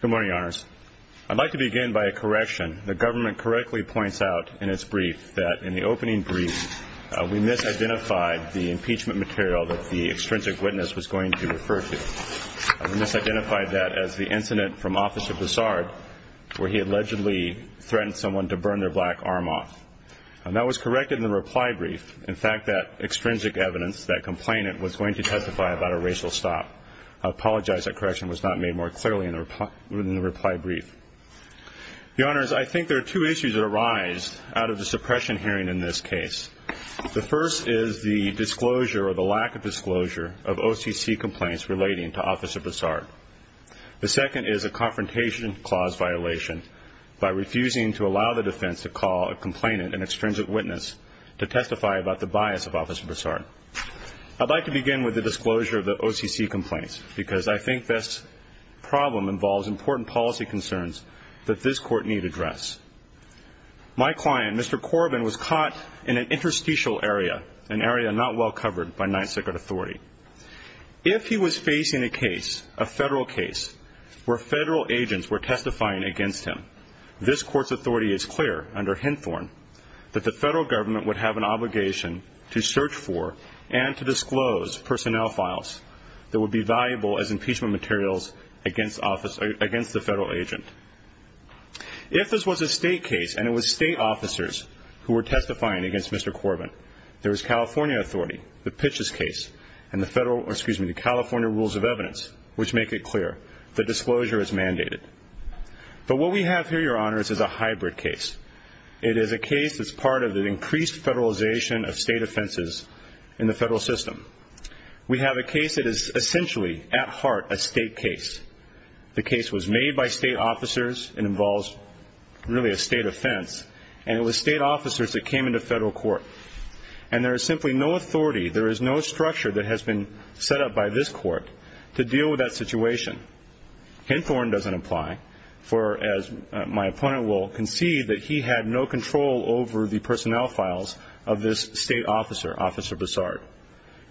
Good morning, your honors. I'd like to begin by a correction. The government correctly points out in its brief that in the opening brief, we misidentified the impeachment material that the extrinsic witness was going to refer to. We misidentified that as the incident from the office of Bessard, where he allegedly threatened someone to burn their black arm off. That was corrected in the reply brief. In fact, that extrinsic evidence, that complainant, was going to testify about a racial stop. I apologize that correction was not made more clearly in the reply brief. Your honors, I think there are two issues that arise out of the suppression hearing in this case. The first is the disclosure or the lack of disclosure of OCC complaints relating to officer Bessard. The second is a confrontation clause violation by refusing to allow the defense to call a complainant an extrinsic witness to testify about the bias of officer Bessard. I'd like to begin with the disclosure of the OCC complaints because I think this problem involves important policy concerns that this court need address. My client, Mr. Corbin, was caught in an interstitial area, an area not well covered by Ninth Circuit authority. If he was facing a case, a federal case, where federal agents were testifying against him, this court's authority is clear under Henthorne that the federal government would have an obligation to search for and to disclose personnel files that would be valuable as impeachment materials against the federal agent. If this was a state case and it was state officers who were testifying against Mr. Corbin, there was California authority, the Pitches case, and the California Rules of Evidence, which make it clear that disclosure is mandated. But what we have here, your honors, is a hybrid case. It is a case that's part of an increased federalization of state offenses in the federal system. We have a case that is essentially, at heart, a state case. The case was made by state officers. It involves really a state offense. And it was state officers that came into federal court. And there is simply no authority, there is no structure that has been set up by this court to deal with that situation. Henthorne doesn't apply for, as my opponent will concede, that he had no control over the personnel files of this state officer, Officer Broussard.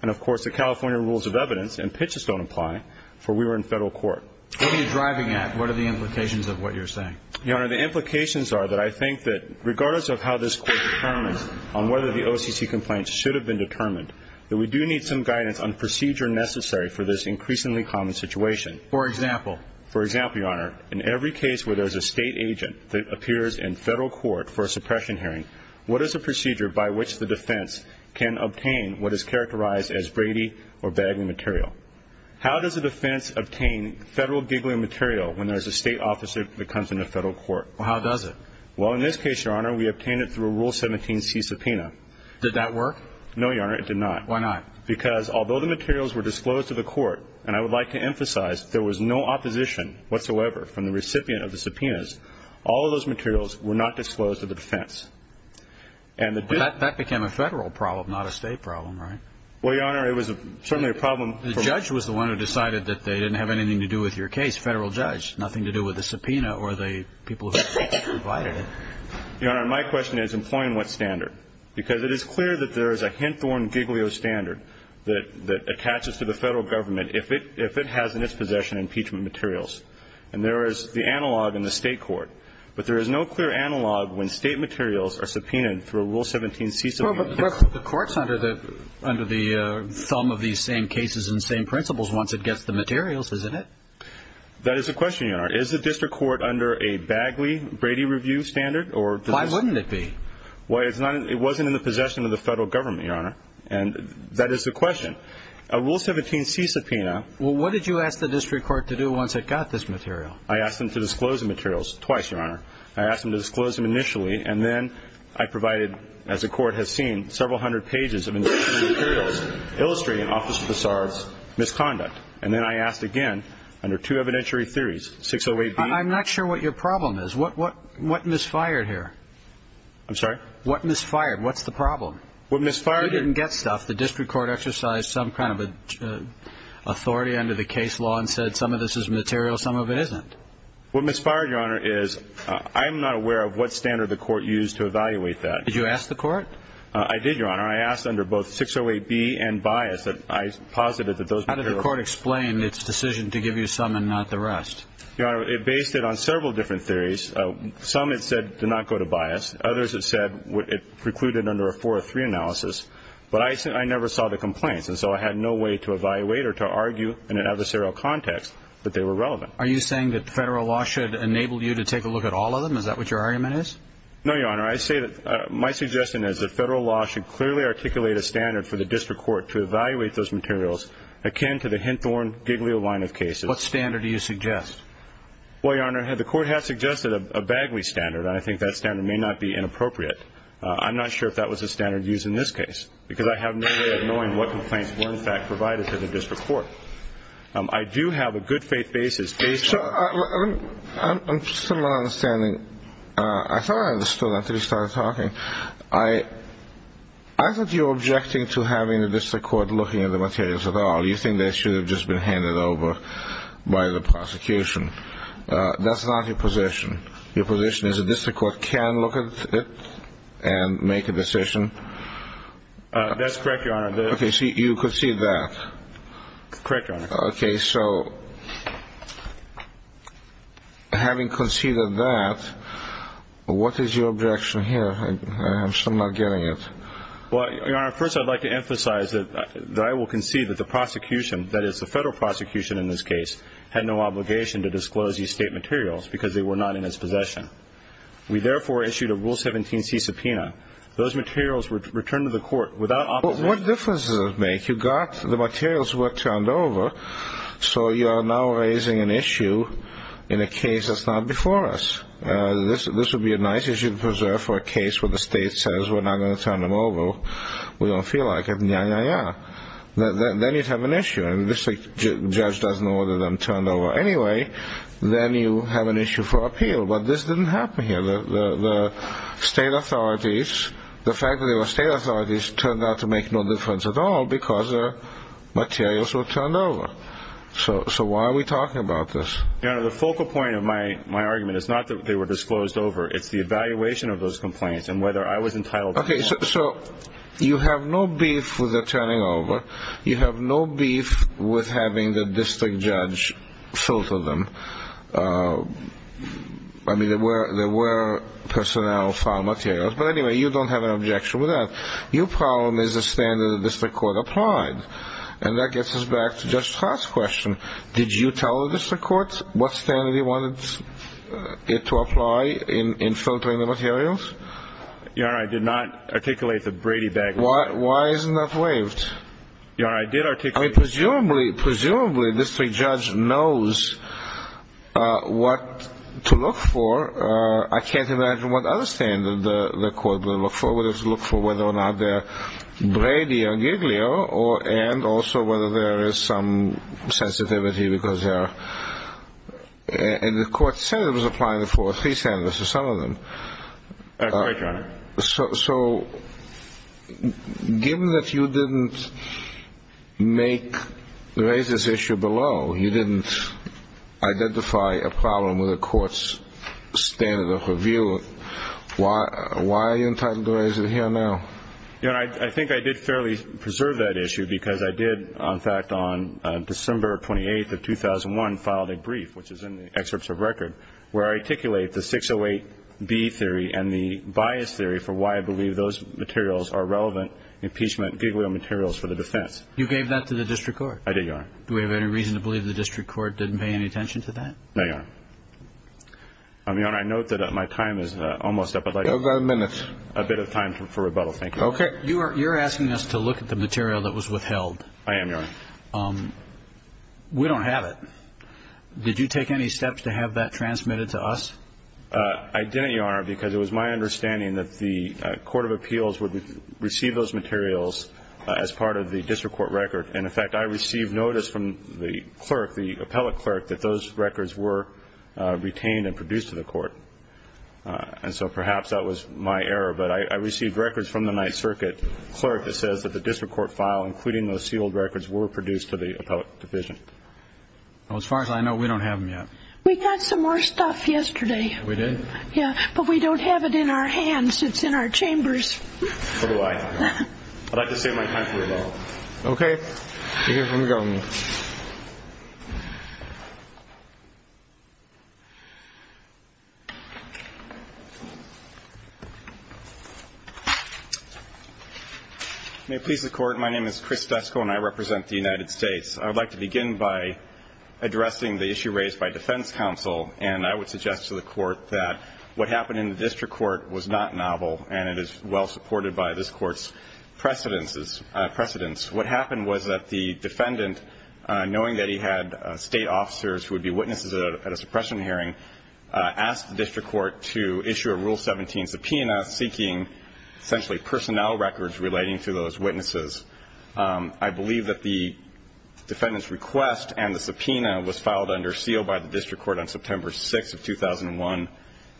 And of course, the California Rules of Evidence and Pitches don't apply, for we were in federal court. What are you driving at? What are the implications of what you're saying? Your honor, the implications are that I think that, regardless of how this court determines on whether the OCC complaints should have been determined, that we do need some guidance on procedure necessary for this increasingly common situation. For example? For example, your honor, in every case where there's a state agent that appears in federal court for a suppression hearing, what is the procedure by which the defense can obtain what is characterized as Brady or bagging material? How does the defense obtain federal giggling material when there's a state officer that comes into federal court? Well, how does it? Well, in this case, your honor, we obtained it through a Rule 17c subpoena. Did that work? No, your honor, it did not. Why not? Because, although the materials were disclosed to the court, and I would like to of the subpoenas, all of those materials were not disclosed to the defense. That became a federal problem, not a state problem, right? Well, your honor, it was certainly a problem for... The judge was the one who decided that they didn't have anything to do with your case, federal judge, nothing to do with the subpoena or the people who provided it. Your honor, my question is, employing what standard? Because it is clear that there is a Henthorne Giglio standard that attaches to the federal government if it has in its possession impeachment materials. And there is the analog in the state court. But there is no clear analog when state materials are subpoenaed through a Rule 17c subpoena. Well, but the court's under the, under the thumb of these same cases and same principles once it gets the materials, isn't it? That is the question, your honor. Is the district court under a Bagley-Brady review standard, or... Why wouldn't it be? Well, it's not, it wasn't in the possession of the federal government, your honor. And that is the question. A Rule 17c subpoena... Well, what did you ask the district court to do once it got this material? I asked them to disclose the materials twice, your honor. I asked them to disclose them initially, and then I provided, as the court has seen, several hundred pages of materials illustrating Officer Passar's misconduct. And then I asked again, under two evidentiary theories, 608B... I'm not sure what your problem is. What, what, what misfired here? I'm sorry? What misfired? What's the problem? What misfired... You didn't get stuff. The district court exercised some kind of authority under the case law and said some of this is material, some of it isn't. What misfired, your honor, is I'm not aware of what standard the court used to evaluate that. Did you ask the court? I did, your honor. I asked under both 608B and Bias that I posited that those materials... How did the court explain its decision to give you some and not the rest? Your honor, it based it on several different theories. Some it said did not go to Bias. Others it said it precluded under a 403 analysis. But I said I never saw the complaints. And so I had no way to evaluate or to argue in an adversarial context that they were relevant. Are you saying that federal law should enable you to take a look at all of them? Is that what your argument is? No, your honor. I say that my suggestion is that federal law should clearly articulate a standard for the district court to evaluate those materials akin to the Henthorne-Giglio line of cases. What standard do you suggest? Well, your honor, the court has suggested a Bagley standard. I think that standard may not be inappropriate. I'm not sure if that was a standard used in this case because I have no way of knowing what complaints were in fact provided to the district court. I do have a good faith basis based on... So, from my understanding, I thought I understood until you started talking. I thought you were objecting to having the district court looking at the materials at all. You think they should have just been handed over by the prosecution. That's not your position. Your position is that the district court can look at it and make a decision? That's correct, your honor. Okay, so you concede that? Correct, your honor. Okay, so having conceded that, what is your objection here? I'm still not getting it. Well, your honor, first I'd like to emphasize that I will concede that the prosecution, that is the federal prosecution in this case, had no obligation to disclose these state materials because they were not in its possession. We therefore issued a Rule 17c subpoena. Those materials were returned to the court without opposition. What difference does it make? You got the materials were turned over, so you are now raising an issue in a case that's not before us. This would be a nice issue to preserve for a case where the state says we're not going to turn them over. We don't feel like it. Nyah, nyah, nyah. Then you'd have an issue. And if the judge doesn't order them turned over anyway, then you have an issue for appeal. But this didn't happen here. The state authorities, the fact that they were state authorities turned out to make no difference at all because their materials were turned over. So why are we talking about this? Your honor, the focal point of my argument is not that they were disclosed over. It's the evaluation of those complaints and whether I was entitled to them or not. Okay, so you have no beef with the turning over. You have no beef with having the district judge filter them. I mean, there were personnel who found materials. But anyway, you don't have an objection with that. Your problem is the standard the district court applied. And that gets us back to Judge Hart's question. Did you tell the district courts what standard you wanted it to apply in filtering the materials? Your honor, I did not articulate the Brady bag Why isn't that waived? Your honor, I did articulate the bag. Presumably, the district judge knows what to look for. I can't imagine what other standard the court would look for. Would it look for whether or not they're Brady or Giglio and also whether there is some sensitivity because they're... And the court said it was applying the four or three standards or some of them. That's right, your honor. So given that you didn't make the raises issue below, you didn't identify a problem with the court's standard of review, why are you entitled to raise it here now? Your honor, I think I did fairly preserve that issue because I did, in fact, on December 28th of 2001, filed a brief, which is in the excerpts of the record, where I articulate the 608B theory and the bias theory for why I believe those materials are relevant impeachment Giglio materials for the defense. You gave that to the district court? I did, your honor. Do we have any reason to believe the district court didn't pay any attention to that? No, your honor. Your honor, I note that my time is almost up. I'd like a minute. A bit of time for rebuttal, thank you. Okay. You're asking us to look at the material that was withheld. I am, your honor. We don't have that. Did you take any steps to have that transmitted to us? I didn't, your honor, because it was my understanding that the court of appeals would receive those materials as part of the district court record. And in fact, I received notice from the clerk, the appellate clerk, that those records were retained and produced to the court. And so perhaps that was my error. But I received records from the Ninth Circuit clerk that says that the district court file, including those sealed records, were produced to the court. As far as I know, we don't have them yet. We got some more stuff yesterday. We did? Yeah, but we don't have it in our hands. It's in our chambers. So do I. I'd like to say my time for rebuttal. Okay. You're here for rebuttal, ma'am. May it please the court, my name is Chris Dusko and I represent the United States. I'd like to begin by addressing the issue raised by defense counsel. And I would suggest to the court that what happened in the district court was not novel and it is well supported by this court's precedences, precedents. What happened was that the defendant, knowing that he had state officers who would be witnesses at a suppression hearing, asked the district court to issue a Rule 17 subpoena seeking essentially personnel records relating to those witnesses. I believe that the defendant's request and the subpoena was filed under seal by the district court on September 6th of 2001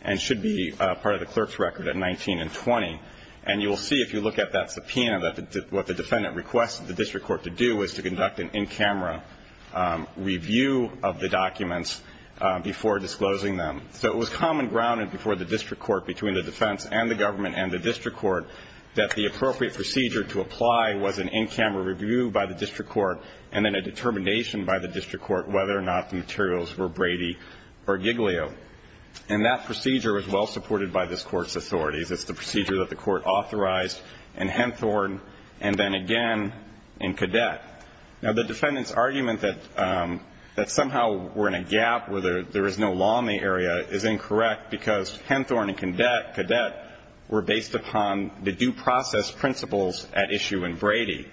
and should be part of the clerk's record at 19 and 20. And you will see if you look at that subpoena that what the defendant requested the district court to do was to conduct an in-camera review of the documents before disclosing them. So it was common ground before the district court between the in-camera review by the district court and then a determination by the district court whether or not the materials were Brady or Giglio. And that procedure is well supported by this court's authorities. It's the procedure that the court authorized in Henthorne and then again in Cadet. Now the defendant's argument that somehow we're in a gap where there is no law in the area is incorrect because Henthorne and Cadet were based upon the due process principles at issue in Brady.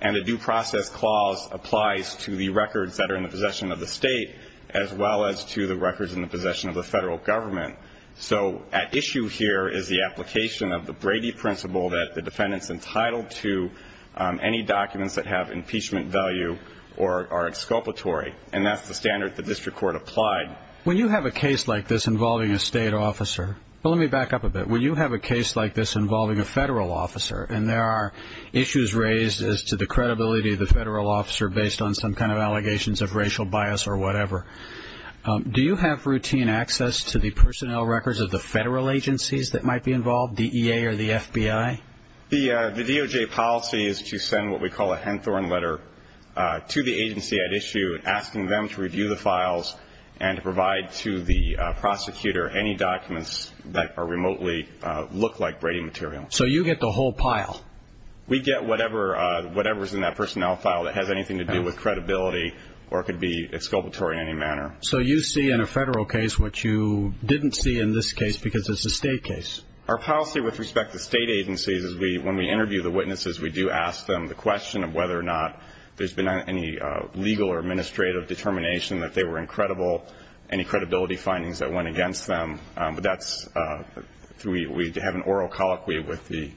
And the due process clause applies to the records that are in the possession of the state as well as to the records in the possession of the federal government. So at issue here is the application of the Brady principle that the defendant's entitled to any documents that have impeachment value or are exculpatory. And that's the standard the district court applied. When you have a case like this involving a state officer, let me back up a bit. When there are issues raised as to the credibility of the federal officer based on some kind of allegations of racial bias or whatever, do you have routine access to the personnel records of the federal agencies that might be involved, the EA or the FBI? The DOJ policy is to send what we call a Henthorne letter to the agency at issue asking them to review the files and to provide to the prosecutor any documents that are remotely look like Brady material. So you get the whole pile? We get whatever is in that personnel file that has anything to do with credibility or could be exculpatory in any manner. So you see in a federal case what you didn't see in this case because it's a state case? Our policy with respect to state agencies is when we interview the witnesses, we do ask them the question of whether or not there's been any legal or administrative determination that they were incredible, any credibility findings that went against them. We have an oral colloquy with the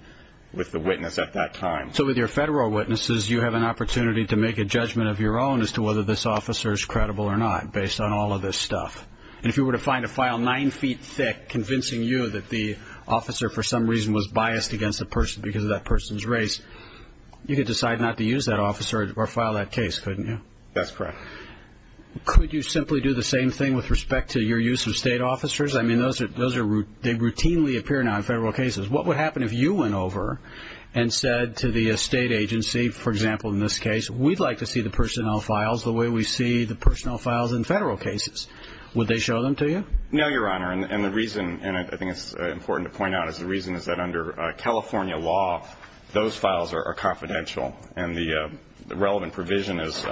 witness at that time. So with your federal witnesses, you have an opportunity to make a judgment of your own as to whether this officer is credible or not based on all of this stuff. And if you were to find a file nine feet thick convincing you that the officer for some reason was biased against a person because of that person's race, you could decide not to use that officer or file that case, couldn't you? That's correct. Could you simply do the same thing with respect to your use of state officers? I mean, they routinely appear now in federal cases. What would happen if you went over and said to the state agency, for example, in this case, we'd like to see the personnel files the way we see the personnel files in federal cases? Would they show them to you? No, Your Honor. And the reason, and I think it's important to point out, is the reason is that under California law, those files are confidential. And the relevant provision is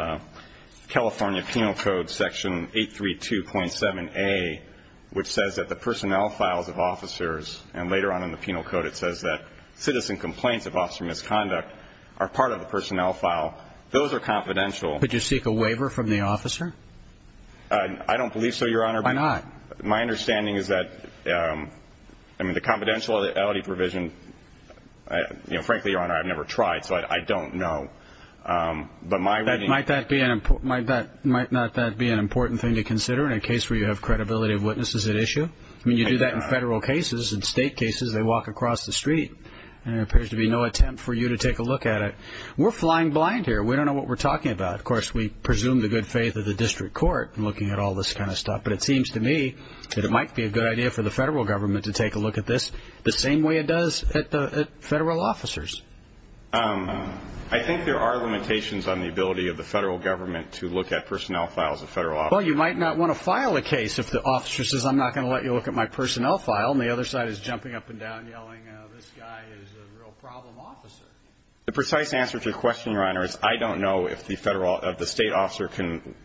California Penal Code Section 832.7a, which says that the personnel files of officers and later on in the penal code it says that citizen complaints of officer misconduct are part of the personnel file. Those are confidential. Could you seek a waiver from the officer? I don't believe so, Your Honor. Why not? My understanding is that, I mean, the confidentiality provision, frankly, Your Honor, I've never tried, so I don't know. But my reading... Might that be an important, might that, might not that be an important thing to consider in a case where you have credibility of witnesses at issue? I mean, you do that in federal cases. In state cases, they walk across the street and there appears to be no attempt for you to take a look at it. We're flying blind here. We don't know what we're talking about. Of course, we presume the good faith of the district court in looking at all this kind of stuff. But it seems to me that it might be a good idea for the federal government to take a I think there are limitations on the ability of the federal government to look at personnel files of federal officers. Well, you might not want to file a case if the officer says, I'm not going to let you look at my personnel file, and the other side is jumping up and down yelling, this guy is a real problem officer. The precise answer to your question, Your Honor, is I don't know if the federal, if the state officer can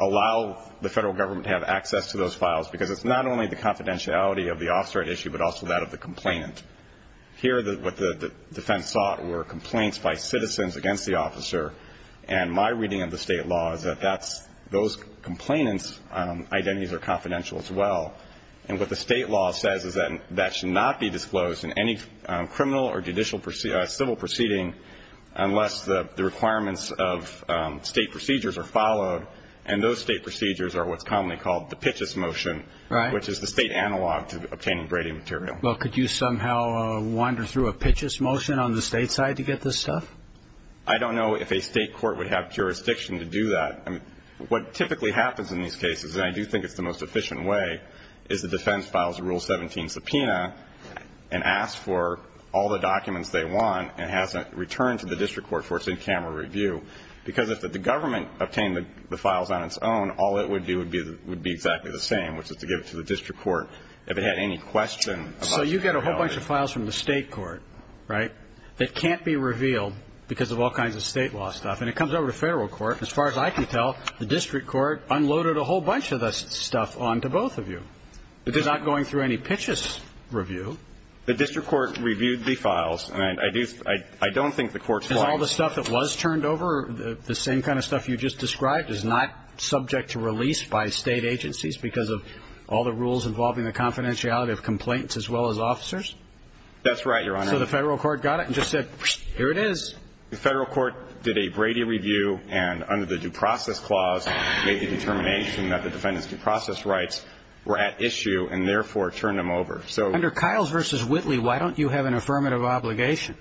allow the federal government to have access to those files, because it's not only the confidentiality of the officer at issue, but also that of the complainant. Here, what the defense sought were complaints by citizens against the officer. And my reading of the state law is that that's, those complainants' identities are confidential as well. And what the state law says is that that should not be disclosed in any criminal or judicial civil proceeding unless the requirements of state procedures are followed. And those state procedures are what's commonly called the Pitches Motion. Right. Which is the state analog to obtaining Brady material. Well, could you somehow wander through a Pitches Motion on the state side to get this stuff? I don't know if a state court would have jurisdiction to do that. I mean, what typically happens in these cases, and I do think it's the most efficient way, is the defense files a Rule 17 subpoena and asks for all the documents they want and has it returned to the district court for its in-camera review. Because if the government obtained the files on its own, then all it would do would be exactly the same, which is to give it to the district court if it had any question about it. So you get a whole bunch of files from the state court, right, that can't be revealed because of all kinds of state law stuff. And it comes over to federal court. As far as I can tell, the district court unloaded a whole bunch of this stuff onto both of you. It's not going through any Pitches review. The district court reviewed the files. And I do, I don't think the court's willing to Is all the stuff that was turned over the same kind of stuff you just described is not subject to release by state agencies because of all the rules involving the confidentiality of complaints as well as officers? That's right, Your Honor. So the federal court got it and just said, here it is. The federal court did a Brady review and under the due process clause made the determination that the defendant's due process rights were at issue and therefore turned them over. So Under Kyle's v. Whitley, why don't you have an affirmative obligation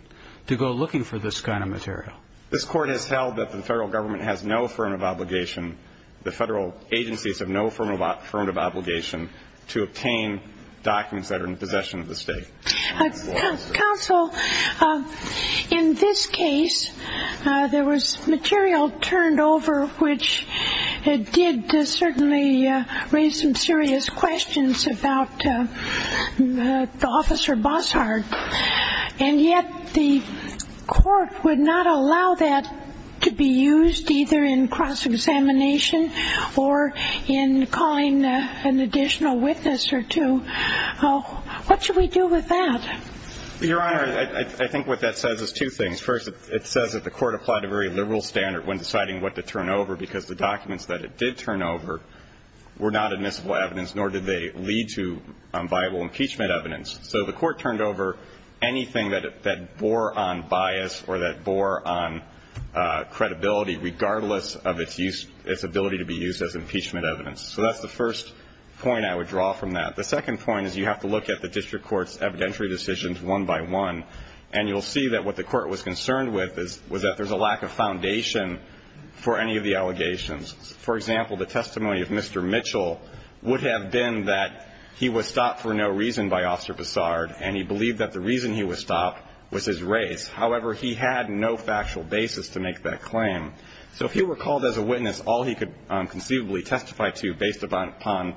to go looking for this kind of material? This court has held that the federal government has no affirmative obligation. The federal agencies have no affirmative obligation to obtain documents that are in possession of the state. Counsel, in this case, there was material turned over, which did certainly raise some questions about whether or not to allow that to be used either in cross-examination or in calling an additional witness or two. What should we do with that? Your Honor, I think what that says is two things. First, it says that the court applied a very liberal standard when deciding what to turn over because the documents that it did turn over were not admissible evidence, nor did they lead to viable impeachment evidence. So the court turned over anything that bore on bias or that bore on credibility, regardless of its ability to be used as impeachment evidence. So that's the first point I would draw from that. The second point is you have to look at the district court's evidentiary decisions one by one, and you'll see that what the court was concerned with was that there's a lack of foundation for any of the allegations. For example, the testimony of Mr. Mitchell would have been that he was stopped for no reason by Officer Bessard, and he believed that the reason he was stopped was his race. However, he had no factual basis to make that claim. So if he were called as a witness, all he could conceivably testify to based upon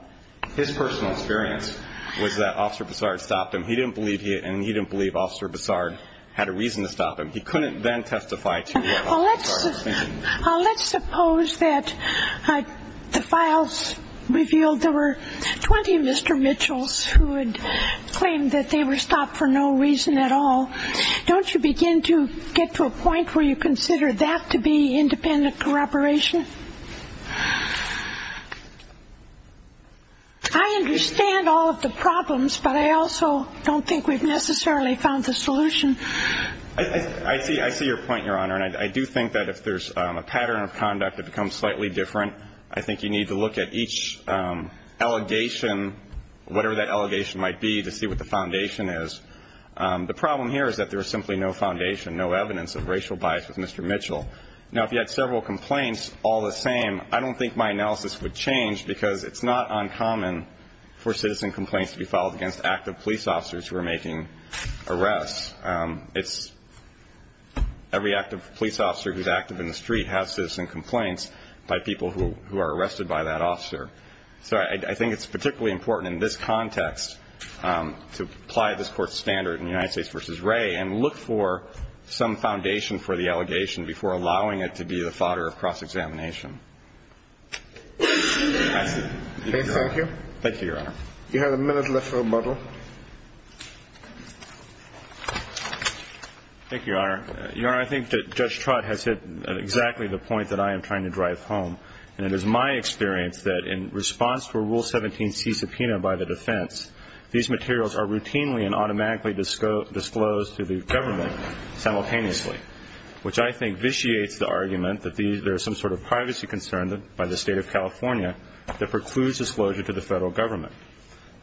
his personal experience was that Officer Bessard stopped him. He didn't believe he had, and he didn't believe Officer Bessard had a reason to stop him. Let's suppose that the files revealed there were 20 Mr. Mitchells who had claimed that they were stopped for no reason at all. Don't you begin to get to a point where you consider that to be independent corroboration? I understand all of the problems, but I also don't think we've necessarily found the solution. I see your point, Your Honor, and I do think that if there's a pattern of conduct that becomes slightly different, I think you need to look at each allegation, whatever that allegation might be, to see what the foundation is. The problem here is that there is simply no foundation, no evidence of racial bias with Mr. Mitchell. Now, if you had several complaints all the same, I don't think my analysis would change because it's not uncommon for citizen complaints to be filed against active police officers who are making arrests. It's every active police officer who's active in the street has citizen complaints by people who are arrested by that officer. So I think it's particularly important in this context to apply this Court's standard in United States v. Wray and look for some foundation for the allegation before allowing it to be the fodder of cross-examination. Thank you. Thank you, Your Honor. You have a minute left for rebuttal. Thank you, Your Honor. Your Honor, I think that Judge Trott has hit exactly the point that I am trying to drive home, and it is my experience that in response to a Rule 17c subpoena by the defense, these materials are routinely and automatically disclosed to the government simultaneously, which I think vitiates the argument that there is some sort of privacy concern by the State of California that precludes disclosure to the federal government.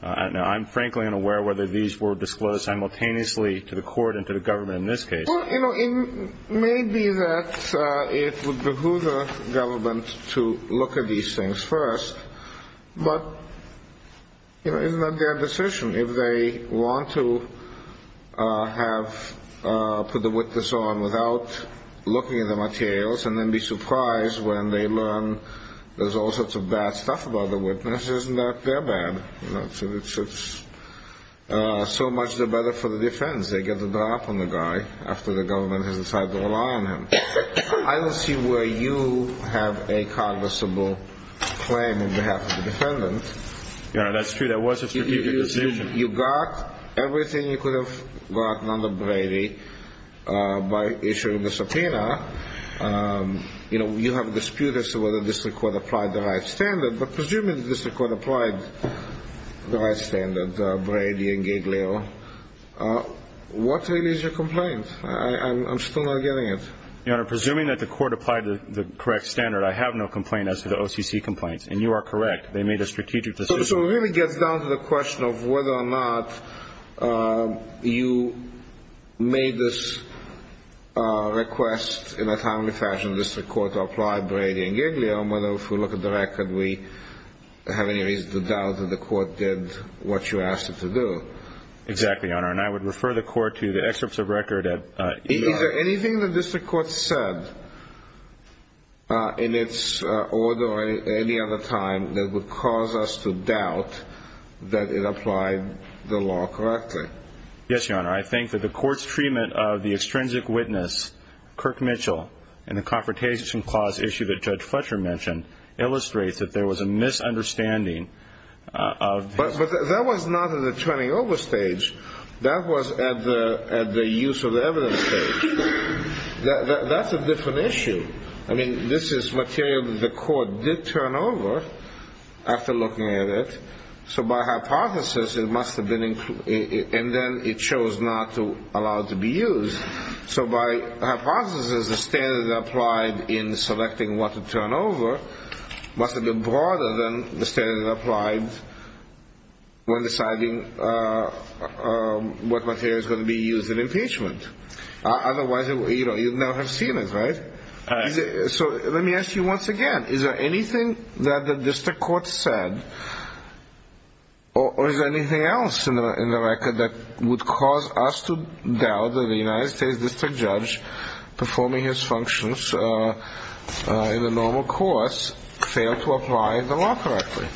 Now, I'm frankly unaware whether these were disclosed simultaneously to the Court and to the government in this case. Well, you know, it may be that it would behoove the government to look at these things first, but, you know, it's not their decision. If they want to put the witness on without looking at the materials and then be surprised when they learn there's all sorts of bad stuff about the witness, isn't that their bad? So much the better for the defense. They get the drop on the guy after the government has decided to rely on him. I don't see where you have a cognizable claim on behalf of the defendant. Your Honor, that's true. That was a strategic decision. You got everything you could have gotten under Brady by issuing the subpoena. You know, you have a dispute as to whether the District Court applied the right standard, but presuming the District Court applied the right standard, Brady and Giglio, what really is your complaint? I'm still not getting it. Your Honor, presuming that the Court applied the correct standard, I have no complaint as to the OCC complaints. And you are correct. They made a strategic decision. So it really gets down to the question of whether or not you made this request in a timely fashion, the District Court applied Brady and Giglio, and whether, if we look at the record, we have any reason to doubt that the Court did what you asked it to do. Exactly, Your Honor. And I would refer the Court to the excerpts of record. Is there anything the District Court said in its order at any other time that would cause us to doubt that it applied the law correctly? Yes, Your Honor. I think that the Court's treatment of the extrinsic witness, Kirk Mitchell, in the Confrontation Clause issue that Judge Fletcher mentioned, illustrates that there was a misunderstanding of— But that was not at the turning over stage. That was at the use of evidence stage. That's a different issue. I mean, this is material that the Court did turn over after looking at it. So by hypothesis, it must have been—and then it chose not to allow it to be used. So by hypothesis, the standard applied in selecting what to turn over must have been broader than the standard applied when deciding what material is going to be used in impeachment. Otherwise, you'd never have seen it, right? So let me ask you once again. Is there anything that the District Court said, or is there anything else in the record that would cause us to doubt that the United States District Judge performing his functions in the normal course failed to apply the law correctly?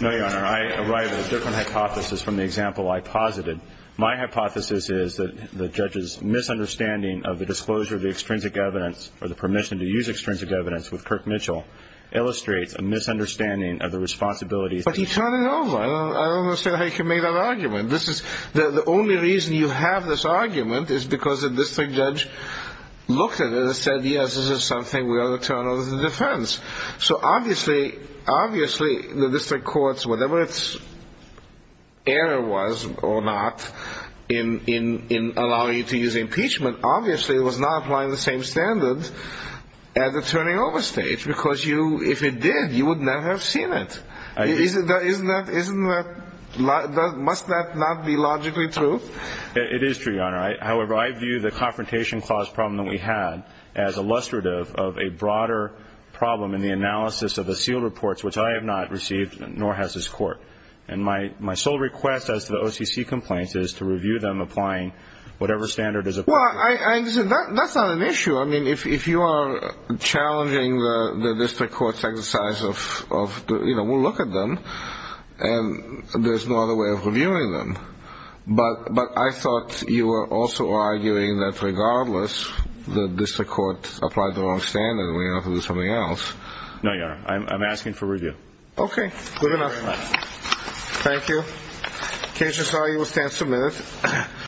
No, Your Honor. I arrive at a different hypothesis from the example I posited. My hypothesis is that the judge's misunderstanding of the disclosure of the extrinsic evidence, or the permission to use extrinsic evidence with Kirk Mitchell, illustrates a misunderstanding of the responsibilities— But he turned it over. I don't understand how you can make that argument. The only reason you have this argument is because the District Judge looked at it and said, yes, this is something we ought to turn over to the defense. So obviously, the District Court's—whatever its error was or not in allowing you to use impeachment—obviously, it was not applying the same standard at the turning over stage, if it did, you would not have seen it. Must that not be logically true? It is true, Your Honor. However, I view the confrontation clause problem that we had as illustrative of a broader problem in the analysis of the sealed reports, which I have not received, nor has this Court. And my sole request as to the OCC complaints is to review them applying whatever standard is appropriate. Well, I understand. That's not an issue. If you are challenging the District Court's exercise of, we'll look at them, and there's no other way of reviewing them. But I thought you were also arguing that regardless the District Court applied the wrong standard, we have to do something else. No, Your Honor. I'm asking for review. Okay. Good enough. Thank you. Case resolved. You will stand submitted.